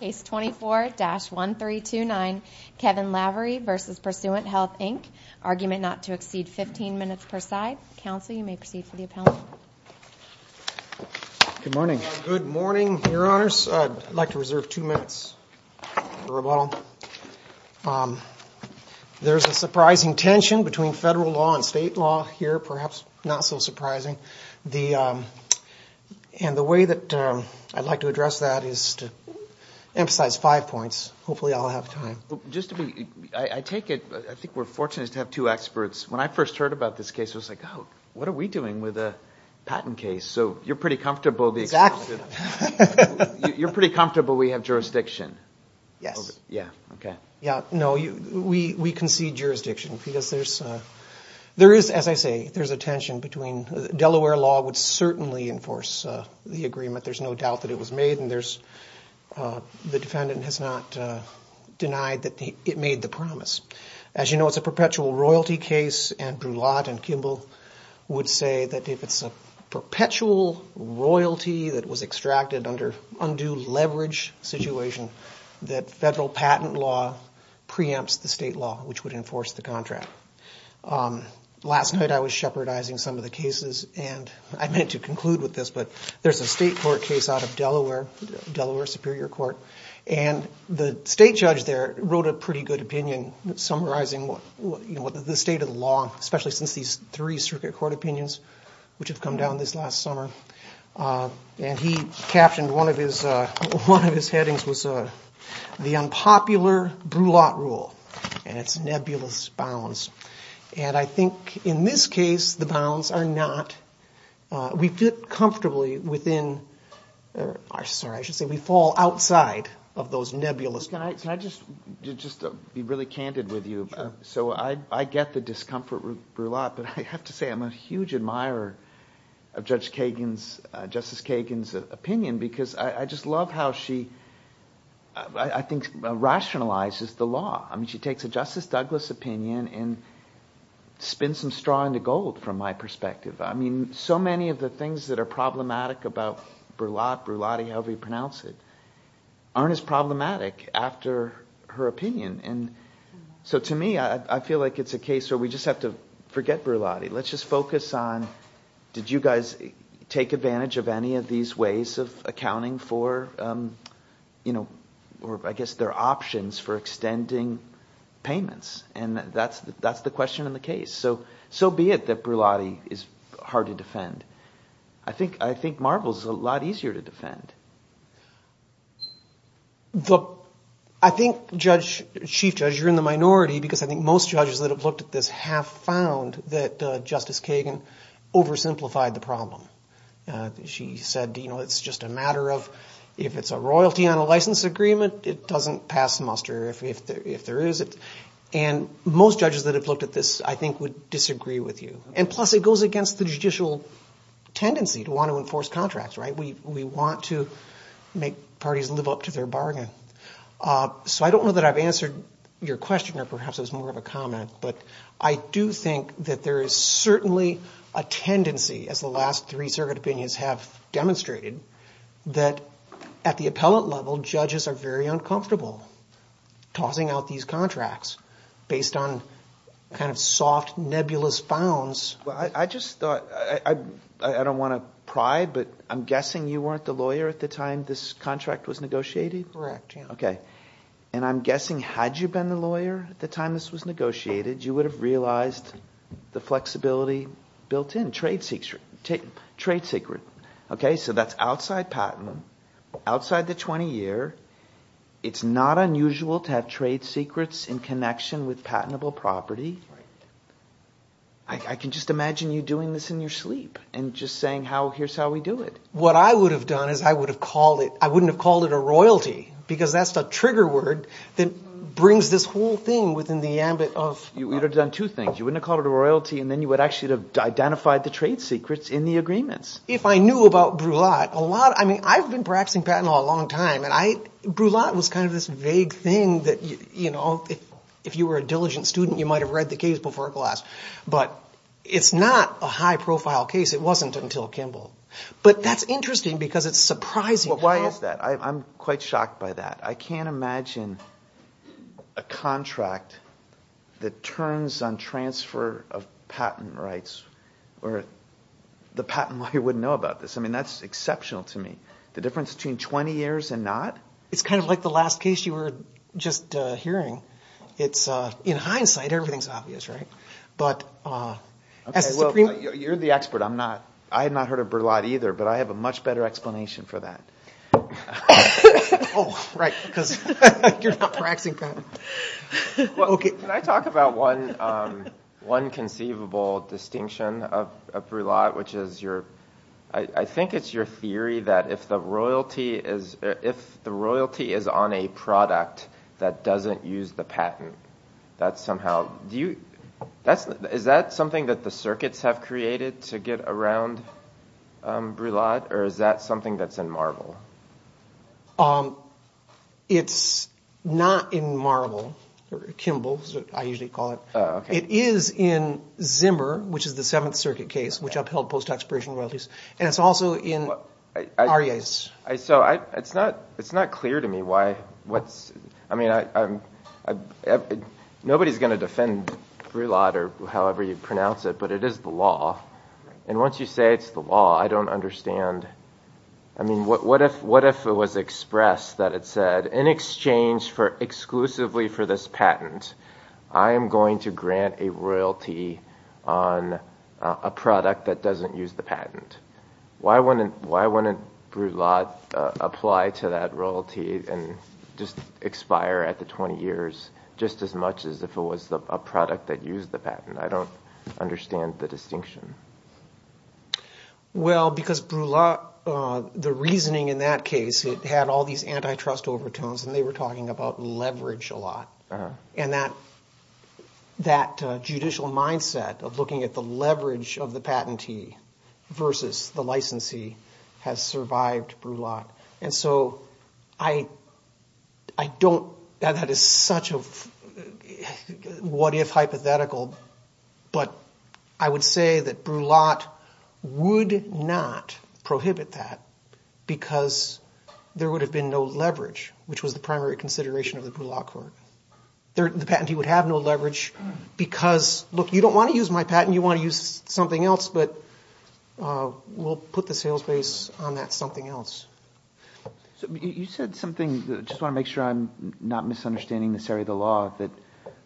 Case 24-1329 Kevin Lavery v. Pursuant Health Inc. Argument not to exceed 15 minutes per side. Counsel, you may proceed for the appellant. Good morning. Good morning, Your Honors. I'd like to reserve two minutes for rebuttal. There's a surprising tension between federal law and state law here, perhaps not so surprising. And the way that I'd like to address that is to emphasize five points. Hopefully I'll have time. I think we're fortunate to have two experts. When I first heard about this case, I was like, oh, what are we doing with a patent case? So you're pretty comfortable we have jurisdiction. Yes. No, we concede jurisdiction because there is, as I say, there's a tension between Delaware law would certainly enforce the agreement. There's no doubt that it was made and there's, the defendant has not denied that it made the promise. As you know, it's a perpetual royalty case and Brulotte and Kimball would say that if it's a perpetual royalty that was extracted under undue leverage situation that federal patent law preempts the state law, which would enforce the contract. Last night I was shepherdizing some of the cases and I meant to conclude with this, but there's a state court case out of Delaware, Delaware Superior Court, and the state judge there wrote a pretty good opinion summarizing the state of the law, especially since these three circuit court opinions, which have come down this last summer. And he captioned one of his headings was the unpopular Brulotte rule and its nebulous bounds. And I think in this case the bounds are not, we fit comfortably within, or sorry, I should say we fall outside of those nebulous bounds. Can I just be really candid with you? So I get the discomfort with Brulotte, but I have to say I'm a huge admirer of Judge Kagan's, Justice Kagan's opinion because I just love how she, I think, rationalizes the law. I mean, she takes a Justice Douglas opinion and spins some straw into gold from my perspective. I mean, so many of the things that are problematic about Brulotte, Brulotte, however you pronounce it, aren't as problematic after her opinion. And so to me, I feel like it's a case where we just have to forget Brulotte. Let's just focus on, did you guys take advantage of any of these ways of accounting for, or I guess their options for extending payments? And that's the question in the case. So be it that Brulotte is hard to defend. I think Marvel's a lot easier to defend. I think, Chief Judge, you're in the minority because I think most judges that have looked at this have found that Justice Kagan oversimplified the problem. She said, you know, it's just a matter of if it's a royalty on a license agreement, it doesn't pass muster if there is it. And most judges that have looked at this, I think, would disagree with you. And plus it goes against the judicial tendency to want to enforce contracts, right? We want to make parties live up to their bargain. So I don't know that I've answered your question or perhaps it was more of a comment, but I do think that there is certainly a tendency, as the last three circuit opinions have demonstrated, that at the appellate level, judges are very uncomfortable tossing out these contracts based on kind of soft, nebulous founds. Well, I just thought, I don't want to pry, but I'm guessing you weren't the lawyer at the time this contract was negotiated? Correct. Okay. And I'm guessing had you been the lawyer at the time this was negotiated, you would have realized the flexibility built in, trade secret. Okay? So that's outside patent, outside the 20 year. It's not unusual to have trade secrets in connection with patentable property. I can just imagine you doing this in your sleep and just saying, here's how we do it. What I would have done is I wouldn't have called it a royalty because that's the trigger word that brings this whole thing within the ambit of- You would have done two things. You wouldn't have called it a royalty and then you would actually have identified the trade secrets in the agreements. If I knew about Brulat, I mean, I've been practicing patent law a long time and Brulat was kind of this vague thing that if you were a diligent student, you might've read the case before class, but it's not a high profile case. It wasn't until Kimball. But that's interesting because it's surprising how- Why is that? I'm quite shocked by that. I can't imagine a contract that turns on transfer of patent rights or the patent lawyer wouldn't know about this. I mean, that's exceptional to me. The difference between 20 years and not? It's kind of like the last case you were just hearing. It's in hindsight, everything's obvious, right? But as the Supreme- You're the expert. I had not heard of Brulat either, but I have a much better explanation for that. Oh, right. Because you're not practicing patent. Can I talk about one conceivable distinction of Brulat, which is your- I think it's your theory that if the royalty is on a product that doesn't use the patent, that somehow- Is that something that the circuits have created to get around Brulat, or is that something that's in Marble? It's not in Marble or Kimball, as I usually call it. It is in Zimmer, which is the Seventh Circuit case, which upheld post-expiration royalties. And it's also in Arias. So it's not clear to me why- I mean, nobody's going to defend Brulat, or however you pronounce it, but it is the law. And once you say it's the law, I don't understand. I mean, what if it was expressed that it said, in exchange exclusively for this patent, I am going to grant a royalty on a product that doesn't use the patent? Why wouldn't Brulat apply to that royalty and just expire at the 20 years, just as much as if it was a product that used the patent? I don't understand the distinction. Well, because Brulat, the reasoning in that case, it had all these antitrust overtones, and they were talking about leverage a lot. And that judicial mindset of looking at the leverage of the patentee versus the licensee has survived Brulat. And so I don't- that is such a what-if hypothetical, but I would say that Brulat would not prohibit that because there would have been no leverage, which was the primary consideration of the Brulat court. The patentee would have no leverage because, look, you don't want to use my patent, you want to use something else, but we'll put the sales base on that something else. You said something- I just want to make sure I'm not misunderstanding this area of the law, that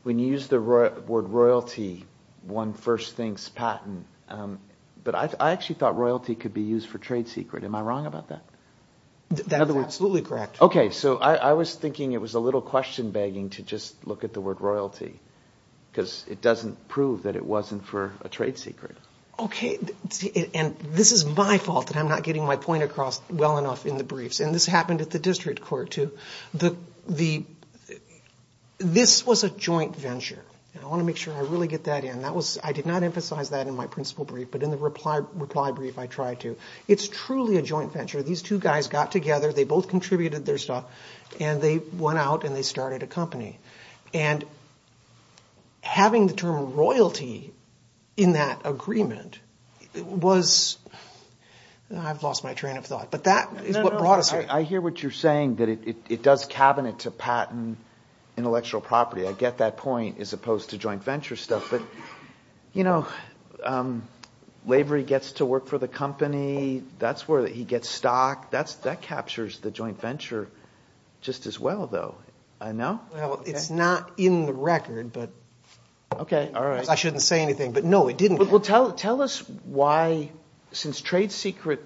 when you use the word royalty, one first thinks patent. But I actually thought royalty could be used for trade secret. Am I wrong about that? That is absolutely correct. Okay, so I was thinking it was a little question begging to just look at the word royalty because it doesn't prove that it wasn't for a trade secret. Okay, and this is my fault that I'm not getting my point across well enough in the briefs. And this happened at the district court too. This was a joint venture. I want to make sure I really get that in. I did not emphasize that in my principal brief, but in the reply brief I tried to. It's truly a joint venture. These two guys got together, they both contributed their stuff, and they went out and they started a company. And having the term royalty in that agreement was- I've lost my train of thought, but that is what brought us here. I hear what you're saying, that it does cabinet to patent intellectual property. I get that point as opposed to joint venture stuff. But, you know, Lavery gets to work for the company. That's where he gets stock. That captures the joint venture just as well, though. It's not in the record. I shouldn't say anything, but no, it didn't. Tell us why, since trade secret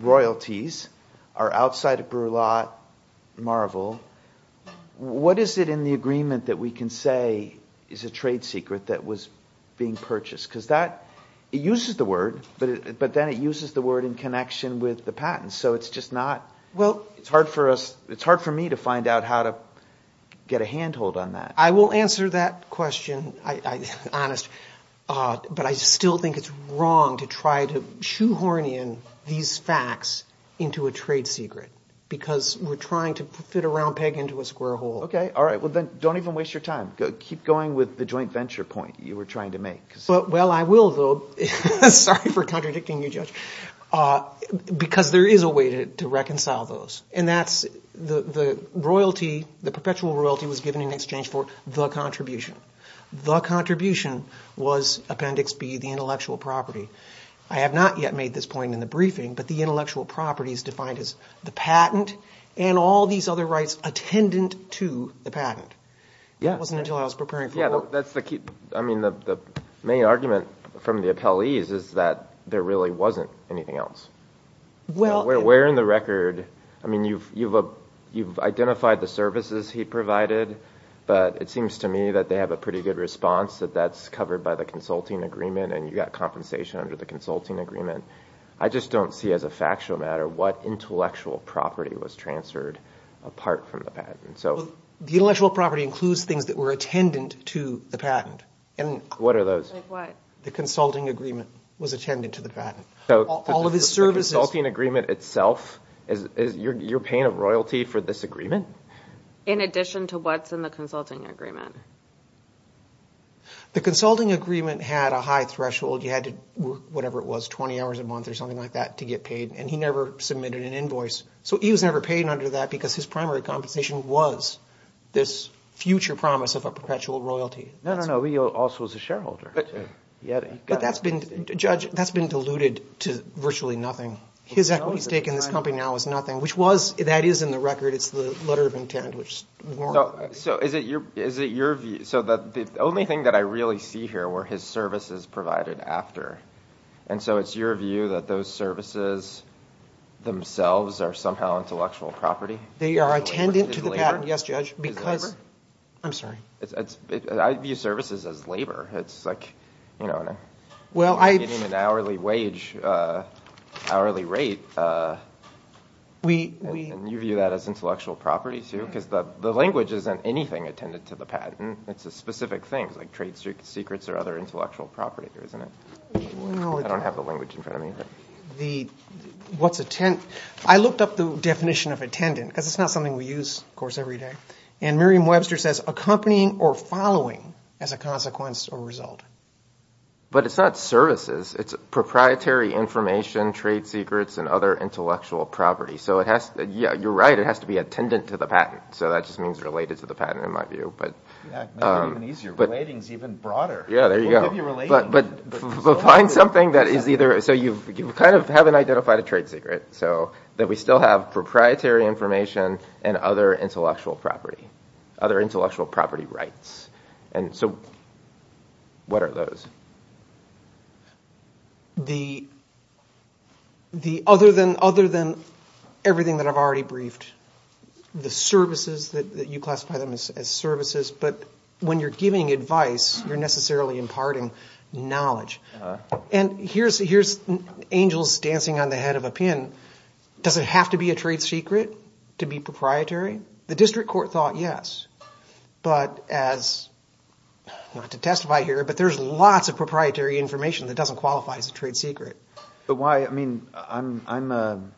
royalties are outside of Brulot, Marvel, what is it in the agreement that we can say is a trade secret that was being purchased? Because it uses the word, but then it uses the word in connection with the patent. So it's just not- it's hard for me to find out how to get a handhold on that. I will answer that question, honest. But I still think it's wrong to try to shoehorn in these facts into a trade secret, because we're trying to fit a round peg into a square hole. Okay, all right. Well, then don't even waste your time. Keep going with the joint venture point you were trying to make. Well, I will, though. Sorry for contradicting you, Judge. Because there is a way to reconcile those. And that's the royalty, the perpetual royalty was given in exchange for the contribution. The contribution was Appendix B, the intellectual property. I have not yet made this point in the briefing, but the intellectual property is defined as the patent and all these other things, but it's attendant to the patent. It wasn't until I was preparing for the court- Yeah, that's the key. I mean, the main argument from the appellees is that there really wasn't anything else. Well- We're wearing the record. I mean, you've identified the services he provided, but it seems to me that they have a pretty good response, that that's covered by the consulting agreement and you got compensation under the consulting agreement. I just don't see as a factual matter what intellectual property was transferred apart from the patent. Well, the intellectual property includes things that were attendant to the patent. What are those? The consulting agreement was attendant to the patent. All of his services- The consulting agreement itself, you're paying a royalty for this agreement? In addition to what's in the consulting agreement. The consulting agreement had a high threshold. You had to work, whatever it was, 20 hours a month or something like that to get paid, and he never submitted an invoice. He was never paid under that because his primary compensation was this future promise of a perpetual royalty. No, no, no. He also was a shareholder. But that's been diluted to virtually nothing. His equity stake in this company now is nothing, which that is in the record. It's the letter of intent, which is more- So is it your view? The only thing that I really see here were his services provided after. And so it's your view that those services themselves are somehow intellectual property? They are attendant to the patent, yes, Judge, because- I'm sorry. I view services as labor. It's like getting an hourly wage, hourly rate, and you view that as intellectual property, too? Because the language isn't anything attendant to the patent. It's a specific thing, like trade secrets or other intellectual property, isn't it? I don't have the language in front of me. I looked up the definition of attendant, because it's not something we use, of course, every day. And Merriam-Webster says accompanying or following as a consequence or result. But it's not services. It's proprietary information, trade secrets, and other intellectual property. So you're right. It has to be attendant to the patent. So that just means related to the patent, in my view. Yeah, make it even easier. Relating is even broader. Yeah, there you go. We'll give you relating. But find something that is either- so you kind of haven't identified a trade secret, so that we still have proprietary information and other intellectual property, other intellectual property rights. And so what are those? Other than everything that I've already briefed, the services that you classify them as services, but when you're giving advice, you're necessarily imparting knowledge. And here's angels dancing on the head of a pin. Does it have to be a trade secret to be proprietary? The district court thought yes. But as- not to testify here, but there's lots of proprietary information that doesn't qualify as a trade secret. But why? I mean, I'm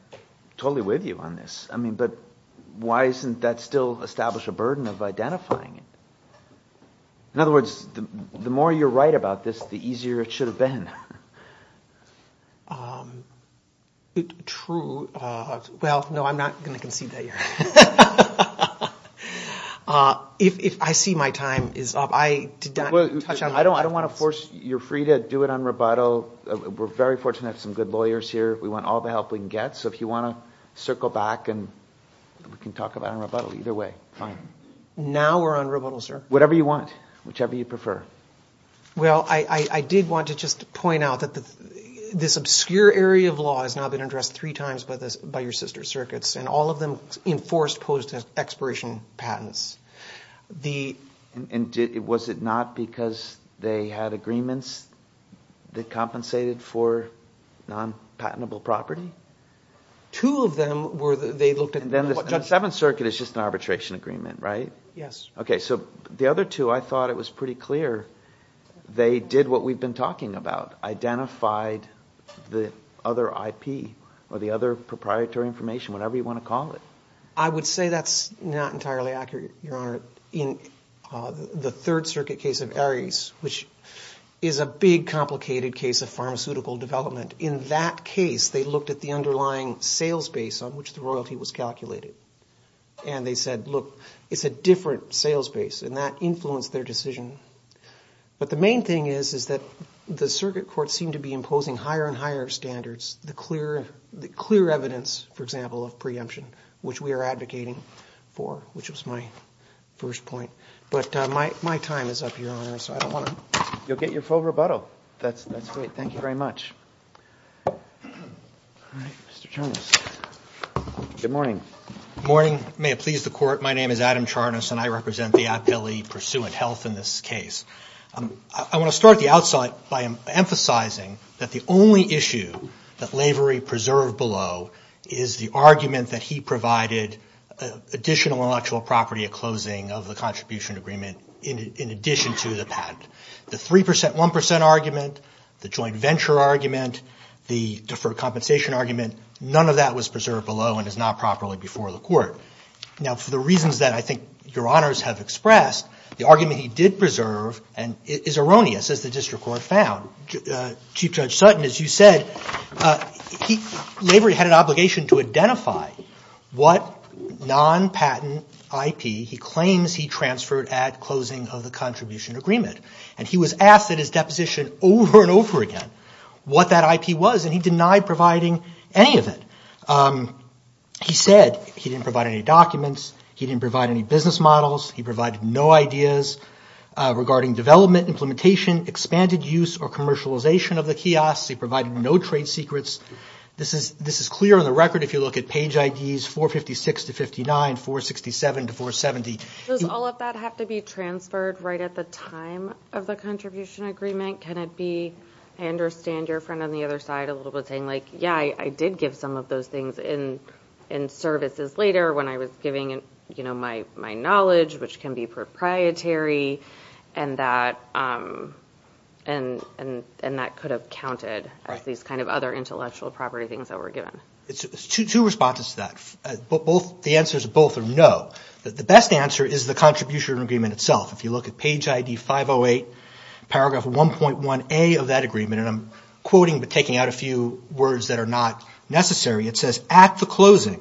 totally with you on this. I mean, but why isn't that still establish a burden of identifying it? In other words, the more you're right about this, the easier it should have been. True. Well, no, I'm not going to concede that you're right. If I see my time is up, I did not touch on- I don't want to force- you're free to do it on rebuttal. We're very fortunate to have some good lawyers here. We want all the help we can get. So if you want to circle back and we can talk about it on rebuttal, either way, fine. Now we're on rebuttal, sir. Whatever you want, whichever you prefer. Well, I did want to just point out that this obscure area of law has now been addressed three times by your sister circuits, and all of them enforced post-expiration patents. Was it not because they had agreements that compensated for non-patentable property? Two of them were that they looked at- And then the Seventh Circuit is just an arbitration agreement, right? Yes. Okay, so the other two, I thought it was pretty clear. They did what we've been talking about, identified the other IP or the other proprietary information, whatever you want to call it. I would say that's not entirely accurate, Your Honor. In the Third Circuit case of Aries, which is a big, complicated case of pharmaceutical development, in that case, they looked at the underlying sales base on which the royalty was calculated. And they said, look, it's a different sales base, and that influenced their decision. But the main thing is that the circuit courts seem to be imposing higher and higher standards, the clear evidence, for example, of preemption, which we are advocating for, which was my first point. But my time is up, Your Honor, so I don't want to- You'll get your full rebuttal. That's great. Thank you very much. All right, Mr. Charnas. Good morning. Good morning. May it please the Court, my name is Adam Charnas, and I represent the Aptly Pursuant Health in this case. I want to start at the outset by emphasizing that the only issue that Lavery preserved below is the argument that he provided additional intellectual property at closing of the contribution agreement in addition to the patent. The 3%, 1% argument, the joint venture argument, the deferred compensation argument, none of that was preserved below and is not properly before the Court. Now, for the reasons that I think Your Honors have expressed, the argument he did preserve is erroneous, as the district court found. Chief Judge Sutton, as you said, Lavery had an obligation to identify what non-patent IP he claims he transferred at closing of the contribution agreement. And he was asked at his deposition over and over again what that IP was, and he denied providing any of it. He said he didn't provide any documents, he didn't provide any business models, he provided no ideas regarding development, implementation, expanded use, or commercialization of the kiosks, he provided no trade secrets. This is clear on the record if you look at page IDs 456 to 59, 467 to 470. Does all of that have to be transferred right at the time of the contribution agreement? Can it be, I understand your friend on the other side a little bit saying like, yeah, I did give some of those things in services later when I was giving, you know, my knowledge, which can be proprietary, and that, and that could have counted as these kind of other intellectual property things that were given. Two responses to that. The answer is both are no. The best answer is the contribution agreement itself. If you look at page ID 508, paragraph 1.1a of that agreement, and I'm quoting but taking out a few words that are not necessary, it says, at the closing,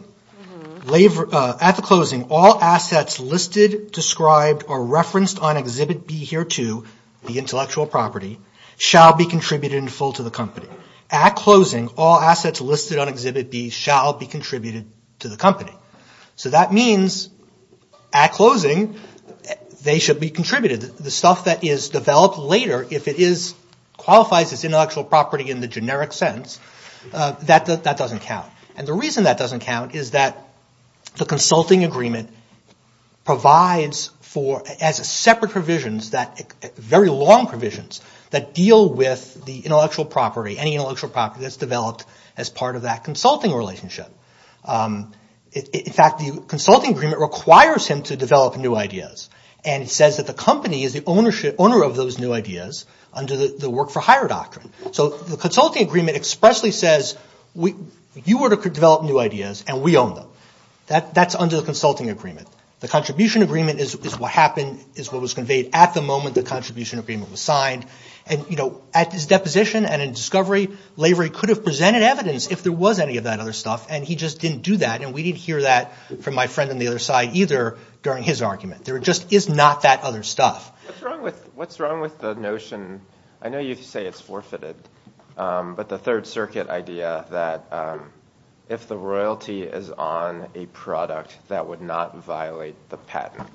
all assets listed, described, or referenced on Exhibit B here too, the intellectual property, shall be contributed in full to the company. At closing, all assets listed on Exhibit B shall be contributed to the company. So that means at closing, they should be contributed. The stuff that is developed later, if it qualifies as intellectual property in the generic sense, that doesn't count. And the reason that doesn't count is that the consulting agreement provides for, as separate provisions that, very long provisions, that deal with the intellectual property, any intellectual property that's developed as part of that consulting relationship. In fact, the consulting agreement requires him to develop new ideas. And it says that the company is the owner of those new ideas under the work for hire doctrine. So the consulting agreement expressly says, you were to develop new ideas, and we own them. That's under the consulting agreement. The contribution agreement is what happened, is what was conveyed at the moment the contribution agreement was signed. At his deposition and in discovery, Lavery could have presented evidence if there was any of that other stuff, and he just didn't do that. And we didn't hear that from my friend on the other side either during his argument. There just is not that other stuff. What's wrong with the notion, I know you say it's forfeited, but the Third Circuit idea that if the royalty is on a product that would not violate the patent,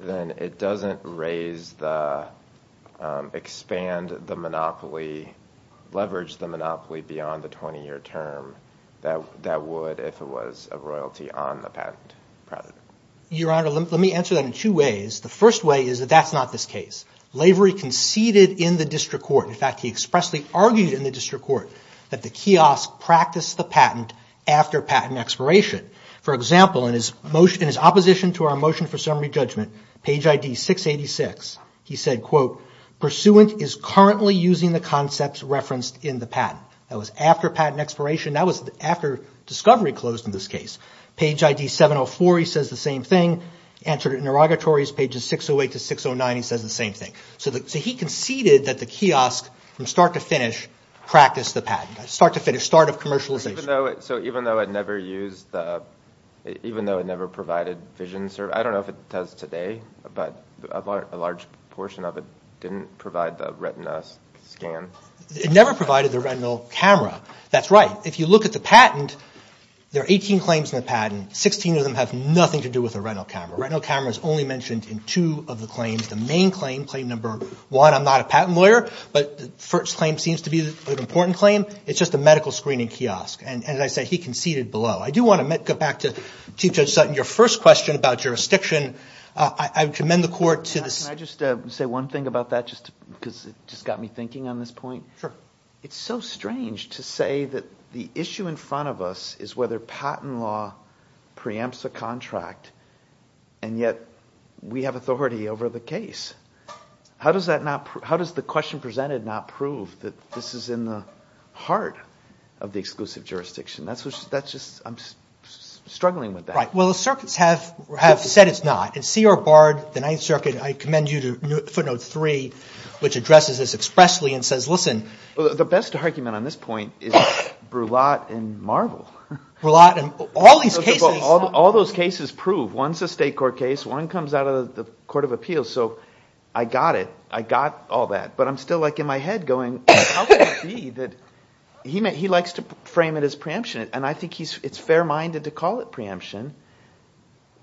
then it doesn't raise the, expand the monopoly, leverage the monopoly beyond the 20-year term, that would if it was a royalty on the patent. Your Honor, let me answer that in two ways. The first way is that that's not this case. Lavery conceded in the district court, in fact he expressly argued in the district court, that the kiosk practiced the patent after patent expiration. For example, in his opposition to our motion for summary judgment, page ID 686, he said, quote, pursuant is currently using the concepts referenced in the patent. That was after patent expiration, that was after discovery closed in this case. Page ID 704, he says the same thing. Entered interrogatories, pages 608 to 609, he says the same thing. So he conceded that the kiosk, from start to finish, practiced the patent, start to finish, start of commercialization. So even though it never used the, even though it never provided vision, I don't know if it does today, but a large portion of it didn't provide the retina scan? It never provided the retinal camera, that's right. If you look at the patent, there are 18 claims in the patent, 16 of them have nothing to do with the retinal camera. Retinal camera is only mentioned in two of the claims. The main claim, claim number one, I'm not a patent lawyer, but the first claim seems to be an important claim, it's just a medical screening kiosk. And as I said, he conceded below. I do want to go back to Chief Judge Sutton, your first question about jurisdiction, I commend the court to the... Can I just say one thing about that, because it just got me thinking on this point? It's so strange to say that the issue in front of us is whether patent law preempts a contract, and yet we have authority over the case. How does the question presented not prove that this is in the heart of the exclusive jurisdiction? That's just, I'm struggling with that. Well, the circuits have said it's not, and C.R. Bard, the Ninth Circuit, I commend you to footnote three, which addresses this expressly and says, listen... The best argument on this point is Brulat and Marvel. Brulat and all these cases... All those cases prove, one's a state court case, one comes out of the Court of Appeals, so I got it, I got all that. But I'm still in my head going, how can it be that... He likes to frame it as preemption, and I think it's fair-minded to call it preemption.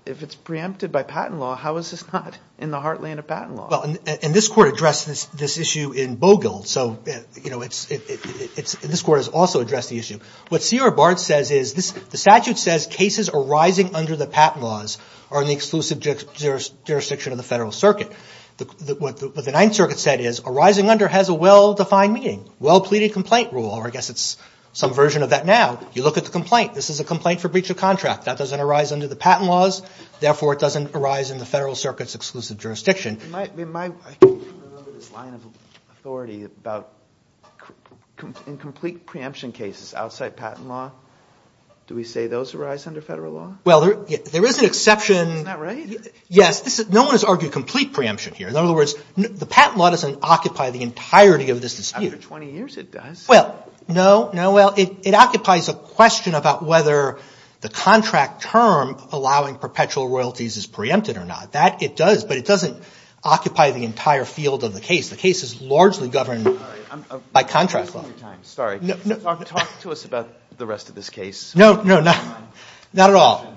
If it's preempted by patent law, how is this not in the heartland of patent law? And this Court addressed this issue in Bogle, and this Court has also addressed the issue. What C.R. Bard says is, the statute says cases arising under the patent laws are in the exclusive jurisdiction of the Federal Circuit. What the Ninth Circuit said is, arising under has a well-defined meaning, well-pleaded complaint rule, or I guess it's some version of that now. You look at the complaint, this is a complaint for breach of contract. That doesn't arise under the patent laws, therefore it doesn't arise in the Federal Circuit's exclusive jurisdiction. You might remember this line of authority about incomplete preemption cases outside patent law. Do we say those arise under federal law? Well, there is an exception... Isn't that right? Yes, no one has argued complete preemption here. In other words, the patent law doesn't occupy the entirety of this dispute. After 20 years it does. Well, no. It occupies a question about whether the contract term allowing perpetual royalties is preempted or not. It does, but it doesn't occupy the entire field of the case. The case is largely governed by contract law. Talk to us about the rest of this case. No, not at all.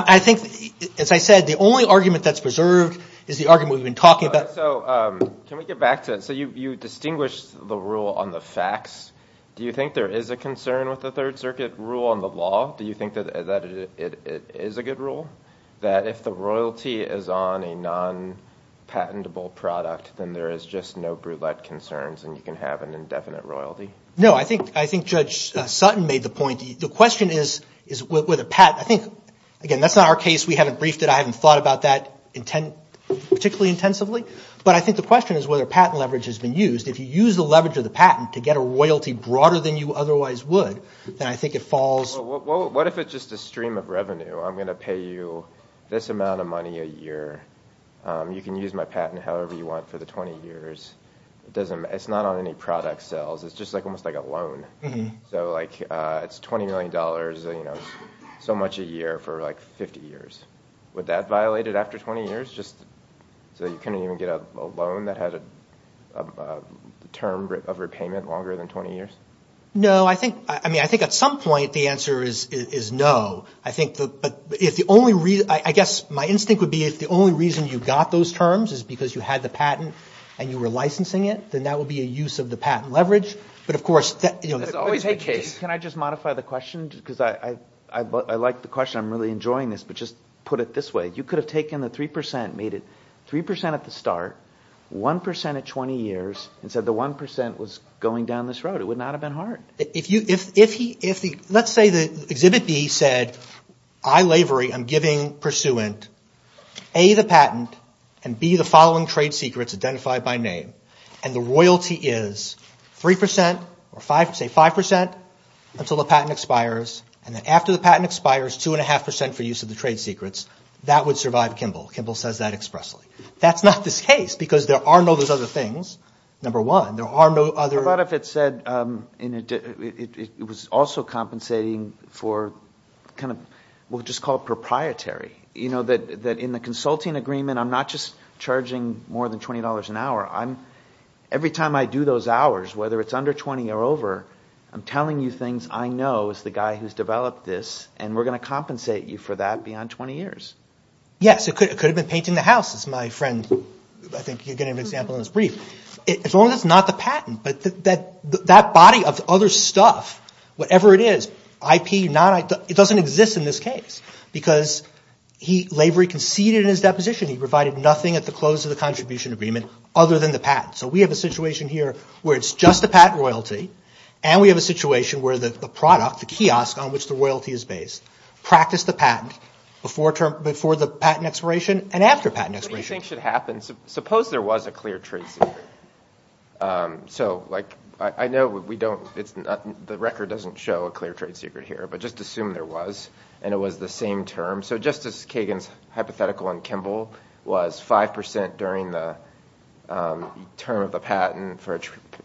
As I said, the only argument that's preserved is the argument we've been talking about. Can we get back to... You distinguished the rule on the facts. Do you think there is a concern with the Third Circuit rule on the law? Do you think that it is a good rule? That if the royalty is on a non-patentable product then there is just no brulette concerns and you can have an indefinite royalty? No, I think Judge Sutton made the point. The question is... Again, that's not our case. We haven't briefed it. I haven't thought about that particularly intensively. But I think the question is whether patent leverage has been used. If you use the leverage of the patent to get a royalty broader than you otherwise would, then I think it falls... What if it's just a stream of revenue? I'm going to pay you this amount of money a year. You can use my patent however you want for the 20 years. It's not on any product sales. It's almost like a loan. It's $20 million, so much a year for 50 years. Would that violate it after 20 years? So you couldn't even get a loan that had a term of repayment longer than 20 years? No, I think at some point the answer is no. I guess my instinct would be if the only reason you got those terms is because you had the patent and you were licensing it, then that would be a use of the patent leverage. Can I just modify the question? I like the question, I'm really enjoying this, but just put it this way. You could have taken the 3% and made it 3% at the start, 1% at 20 years, and said the 1% was going down this road. It would not have been hard. Let's say Exhibit B said, I, Lavery, am giving pursuant A, the patent, and B, the following trade secrets identified by name, and the royalty is 5% until the patent expires, and then after the patent expires, 2.5% for use of the trade secrets. That would survive Kimball. Kimball says that expressly. That's not the case, because there are no other things. Number one, there are no other... What about if it said it was also compensating for what we'll just call proprietary? That in the consulting agreement, I'm not just charging more than $20 an hour. Every time I do those hours, whether it's under $20 or over, I'm telling you things I know as the guy who's developed this, and we're going to compensate you for that beyond 20 years. Yes, it could have been painting the house, as my friend, I think, gave an example in his brief. As long as it's not the patent, that body of other stuff, whatever it is, IP, non-IP, it doesn't exist in this case, because Lavery conceded in his deposition he provided nothing at the close of the contribution agreement other than the patent. So we have a situation here where it's just the patent royalty, and we have a situation where the product, the kiosk, on which the royalty is based, practiced the patent before the patent expiration and after patent expiration. What do you think should happen? Suppose there was a clear trade secret. The record doesn't show a clear trade secret here, but just assume there was, and it was the same term. So just as Kagan's hypothetical on Kimball was 5% during the term of the patent for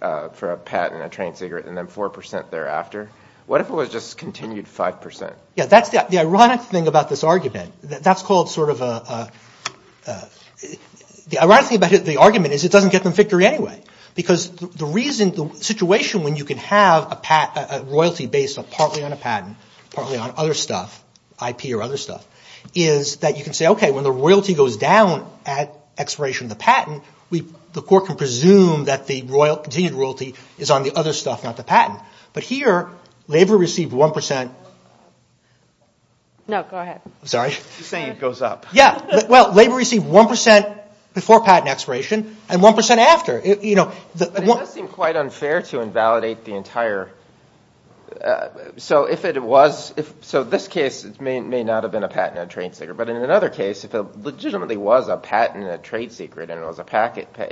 a patent on a trained cigarette, and then 4% thereafter. What if it was just continued 5%? The ironic thing about this argument is it doesn't get them victory anyway. Because the situation when you can have a royalty based partly on a patent, partly on other stuff, IP or other stuff, is that you can say, when the royalty goes down at expiration of the patent, the court can presume that the continued royalty is on the other stuff, not the patent. But here, labor received 1%... No, go ahead. Labor received 1% before patent expiration and 1% after. But it does seem quite unfair to invalidate the entire... So in this case, it may not have been a patent on a trained cigarette. But in another case, if it legitimately was a patent on a trained cigarette and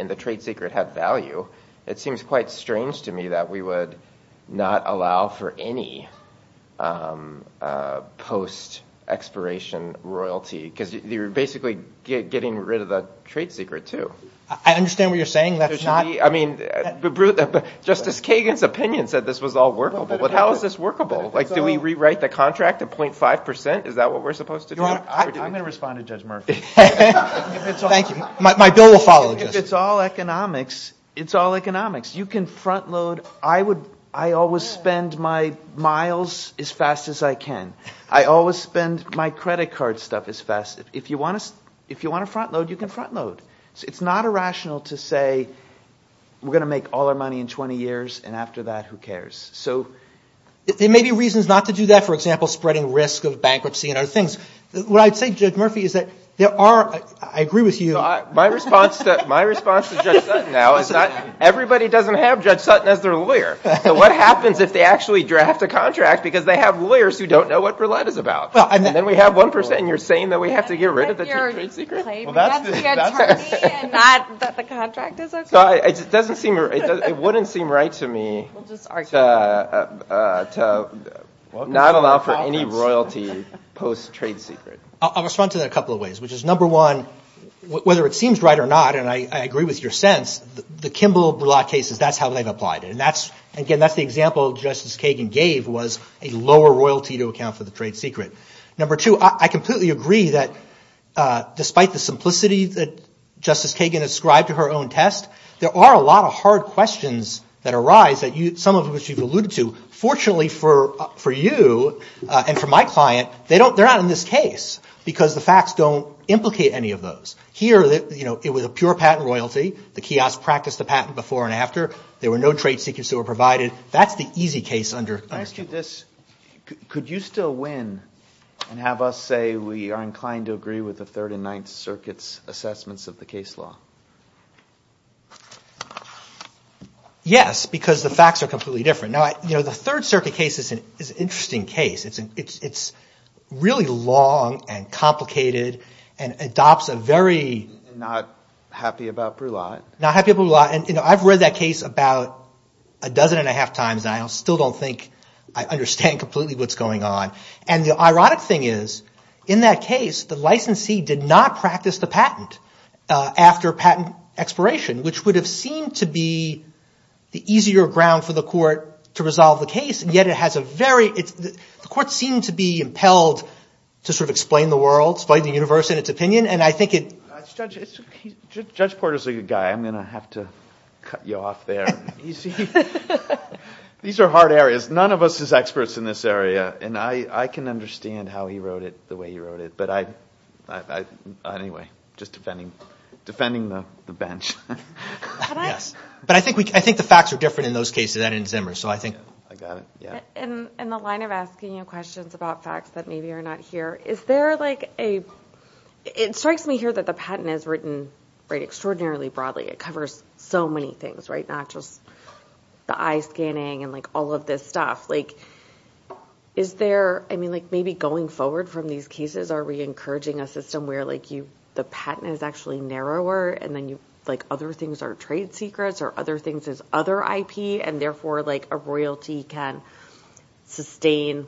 the trained cigarette had value, it seems quite strange to me that we would not allow for any post-expiration royalty. Because you're basically getting rid of the trained cigarette, too. I understand what you're saying. Justice Kagan's opinion said this was all workable. But how is this workable? Do we rewrite the contract to 0.5%? I'm going to respond to Judge Murphy. My bill will follow, Justice. It's all economics. I always spend my miles as fast as I can. I always spend my credit card stuff as fast as I can. If you want to front-load, you can front-load. It's not irrational to say, we're going to make all our money in 20 years and after that, who cares? There may be reasons not to do that, for example, spreading risk of bankruptcy and other things. I agree with you. My response to Judge Sutton now is that everybody doesn't have Judge Sutton as their lawyer. So what happens if they actually draft a contract because they have lawyers who don't know what Verlet is about? And then we have 1% and you're saying that we have to get rid of the trade secret? It wouldn't seem right to me to not allow for any royalty post-trade secret. to not allow for any royalty post-trade secret. I'll respond to that a couple of ways, which is, number one, whether it seems right or not, and I agree with your sense, the Kimbell Blatt cases, that's how they've applied it. Again, that's the example Justice Kagan gave was a lower royalty to account for the trade secret. Number two, I completely agree that despite the simplicity that Justice Kagan ascribed to her own test, there are a lot of hard questions that arise that some of which you've alluded to. Fortunately for you and for my client, they're not in this case, because the facts don't implicate any of those. Here, it was a pure patent royalty. The kiosk practiced the patent before and after. There were no trade secrets that were provided. That's the easy case under Kimbell. Could you still win and have us say we are inclined to agree with the 3rd and 9th Circuit's assessments of the case law? Yes, because the facts are completely different. The 3rd Circuit case is an interesting case. It's really long and complicated and adopts a very... Not happy about Brulat. I've read that case about a dozen and a half times and I still don't think I understand completely what's going on. The ironic thing is, in that case, the licensee did not practice the patent after patent expiration, which would have seemed to be the easier ground for the court to resolve the case. The court seemed to be impelled to explain the world, explain the universe and its opinion. Judge Porter is a good guy. I'm going to have to cut you off there. These are hard areas. None of us are experts in this area. I can understand how he wrote it the way he wrote it. Anyway, just defending the bench. I think the facts are different in those cases and in Zimmer. In the line of asking you questions about facts that maybe are not here, it strikes me here that the patent is written extraordinarily broadly. It covers so many things, not just the eye scanning and all of this stuff. Maybe going forward from these cases, are we encouraging a system where the patent is actually narrower and other things are trade secrets or other things are other IP and therefore a royalty can sustain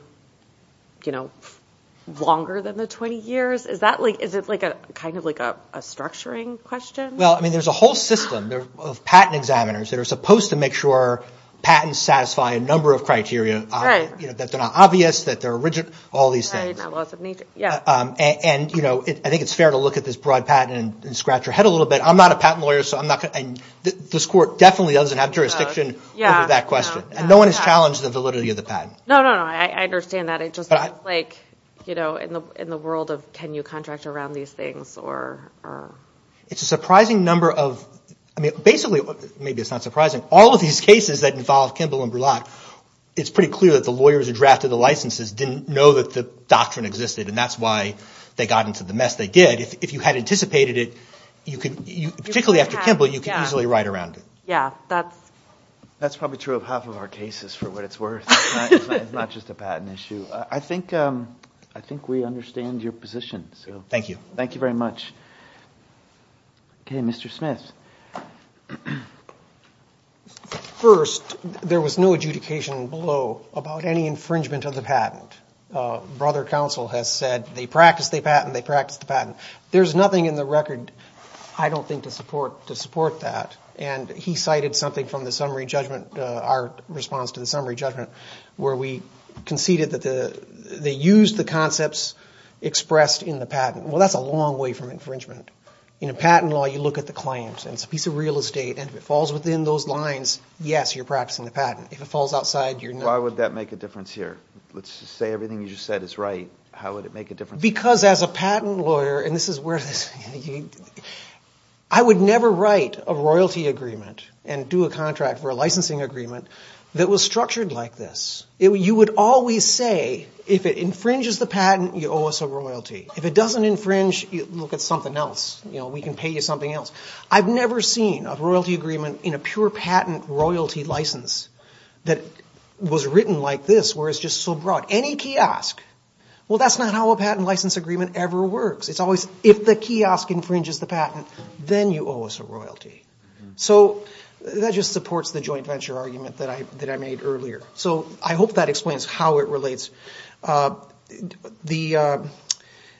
longer than the 20 years? Is it a structuring question? There's a whole system of patent examiners that are supposed to make sure patents satisfy a number of criteria. That they're not obvious, that they're rigid, all these things. I think it's fair to look at this broad patent and scratch your head a little bit. This court definitely doesn't have jurisdiction over that question. No one has challenged the validity of the patent. I understand that. In the world of can you contract around these things? It's a surprising number of all of these cases that involve Kimball and Brulat it's pretty clear that the lawyers who drafted the licenses didn't know that the doctrine existed and that's why they got into the mess they did. If you had anticipated it, particularly after Kimball, you could easily write around it. That's probably true of half of our cases for what it's worth. It's not just a patent issue. Thank you. I think we understand your position. Thank you very much. Mr. Smith. First, there was no adjudication below about any infringement of the patent. Brother counsel has said they practice the patent, they practice the patent. There's nothing in the record I don't think to support that. He cited something from the summary judgment our response to the summary judgment where we conceded that they used the concepts expressed in the patent. That's a long way from infringement. In a patent law you look at the client and it's a piece of real estate and if it falls within those lines, yes, you're practicing the patent. Why would that make a difference here? Let's just say everything you just said is right, how would it make a difference? Because as a patent lawyer, I would never write a royalty agreement and do a contract for a licensing agreement that was structured like this. You would always say if it infringes the patent, you owe us a royalty. If it doesn't infringe, look at something else. We can pay you something else. I've never seen a royalty agreement in a pure patent royalty license that was written like this where it's just so broad. Any kiosk. That's not how a patent license agreement ever works. If the kiosk infringes the patent, then you owe us a royalty. That just supports the joint venture argument that I made earlier. I hope that explains how it relates. The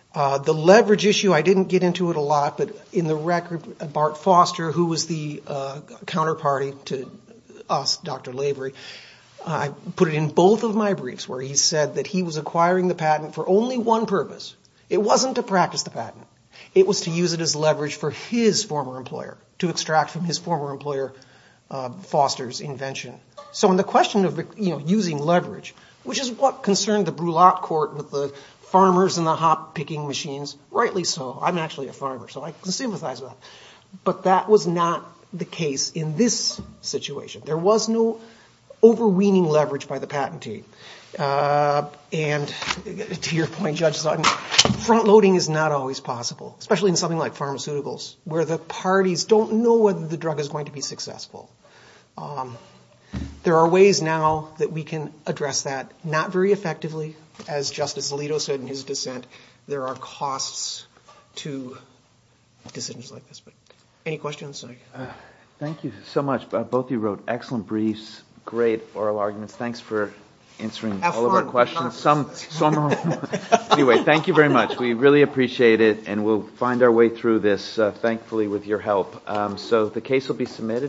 leverage issue, I didn't get into it a lot, but in the record, Bart Foster, who was the counterparty to us, Dr. Lavery, I put it in both of my briefs where he said that he was acquiring the patent for only one purpose. It wasn't to practice the patent. It was to use it as leverage for his former employer to extract from his former employer Foster's invention. So in the question of using leverage, which is what concerned the Brulat court with the farmers and the hop-picking machines, rightly so. I'm actually a farmer, so I can sympathize with that. But that was not the case in this situation. There was no overweening leverage by the patentee. And to your point, Judge Sutton, front-loading is not always possible, especially in something like pharmaceuticals, where the parties don't know whether the drug is going to be successful. There are ways now that we can address that, not very effectively, as Justice Alito said in his dissent. There are costs to decisions like this. Any questions? Thank you so much. Both of you wrote excellent briefs. Great oral arguments. Thanks for answering all of our questions. We really appreciate it. We'll find our way through this, thankfully, with your help.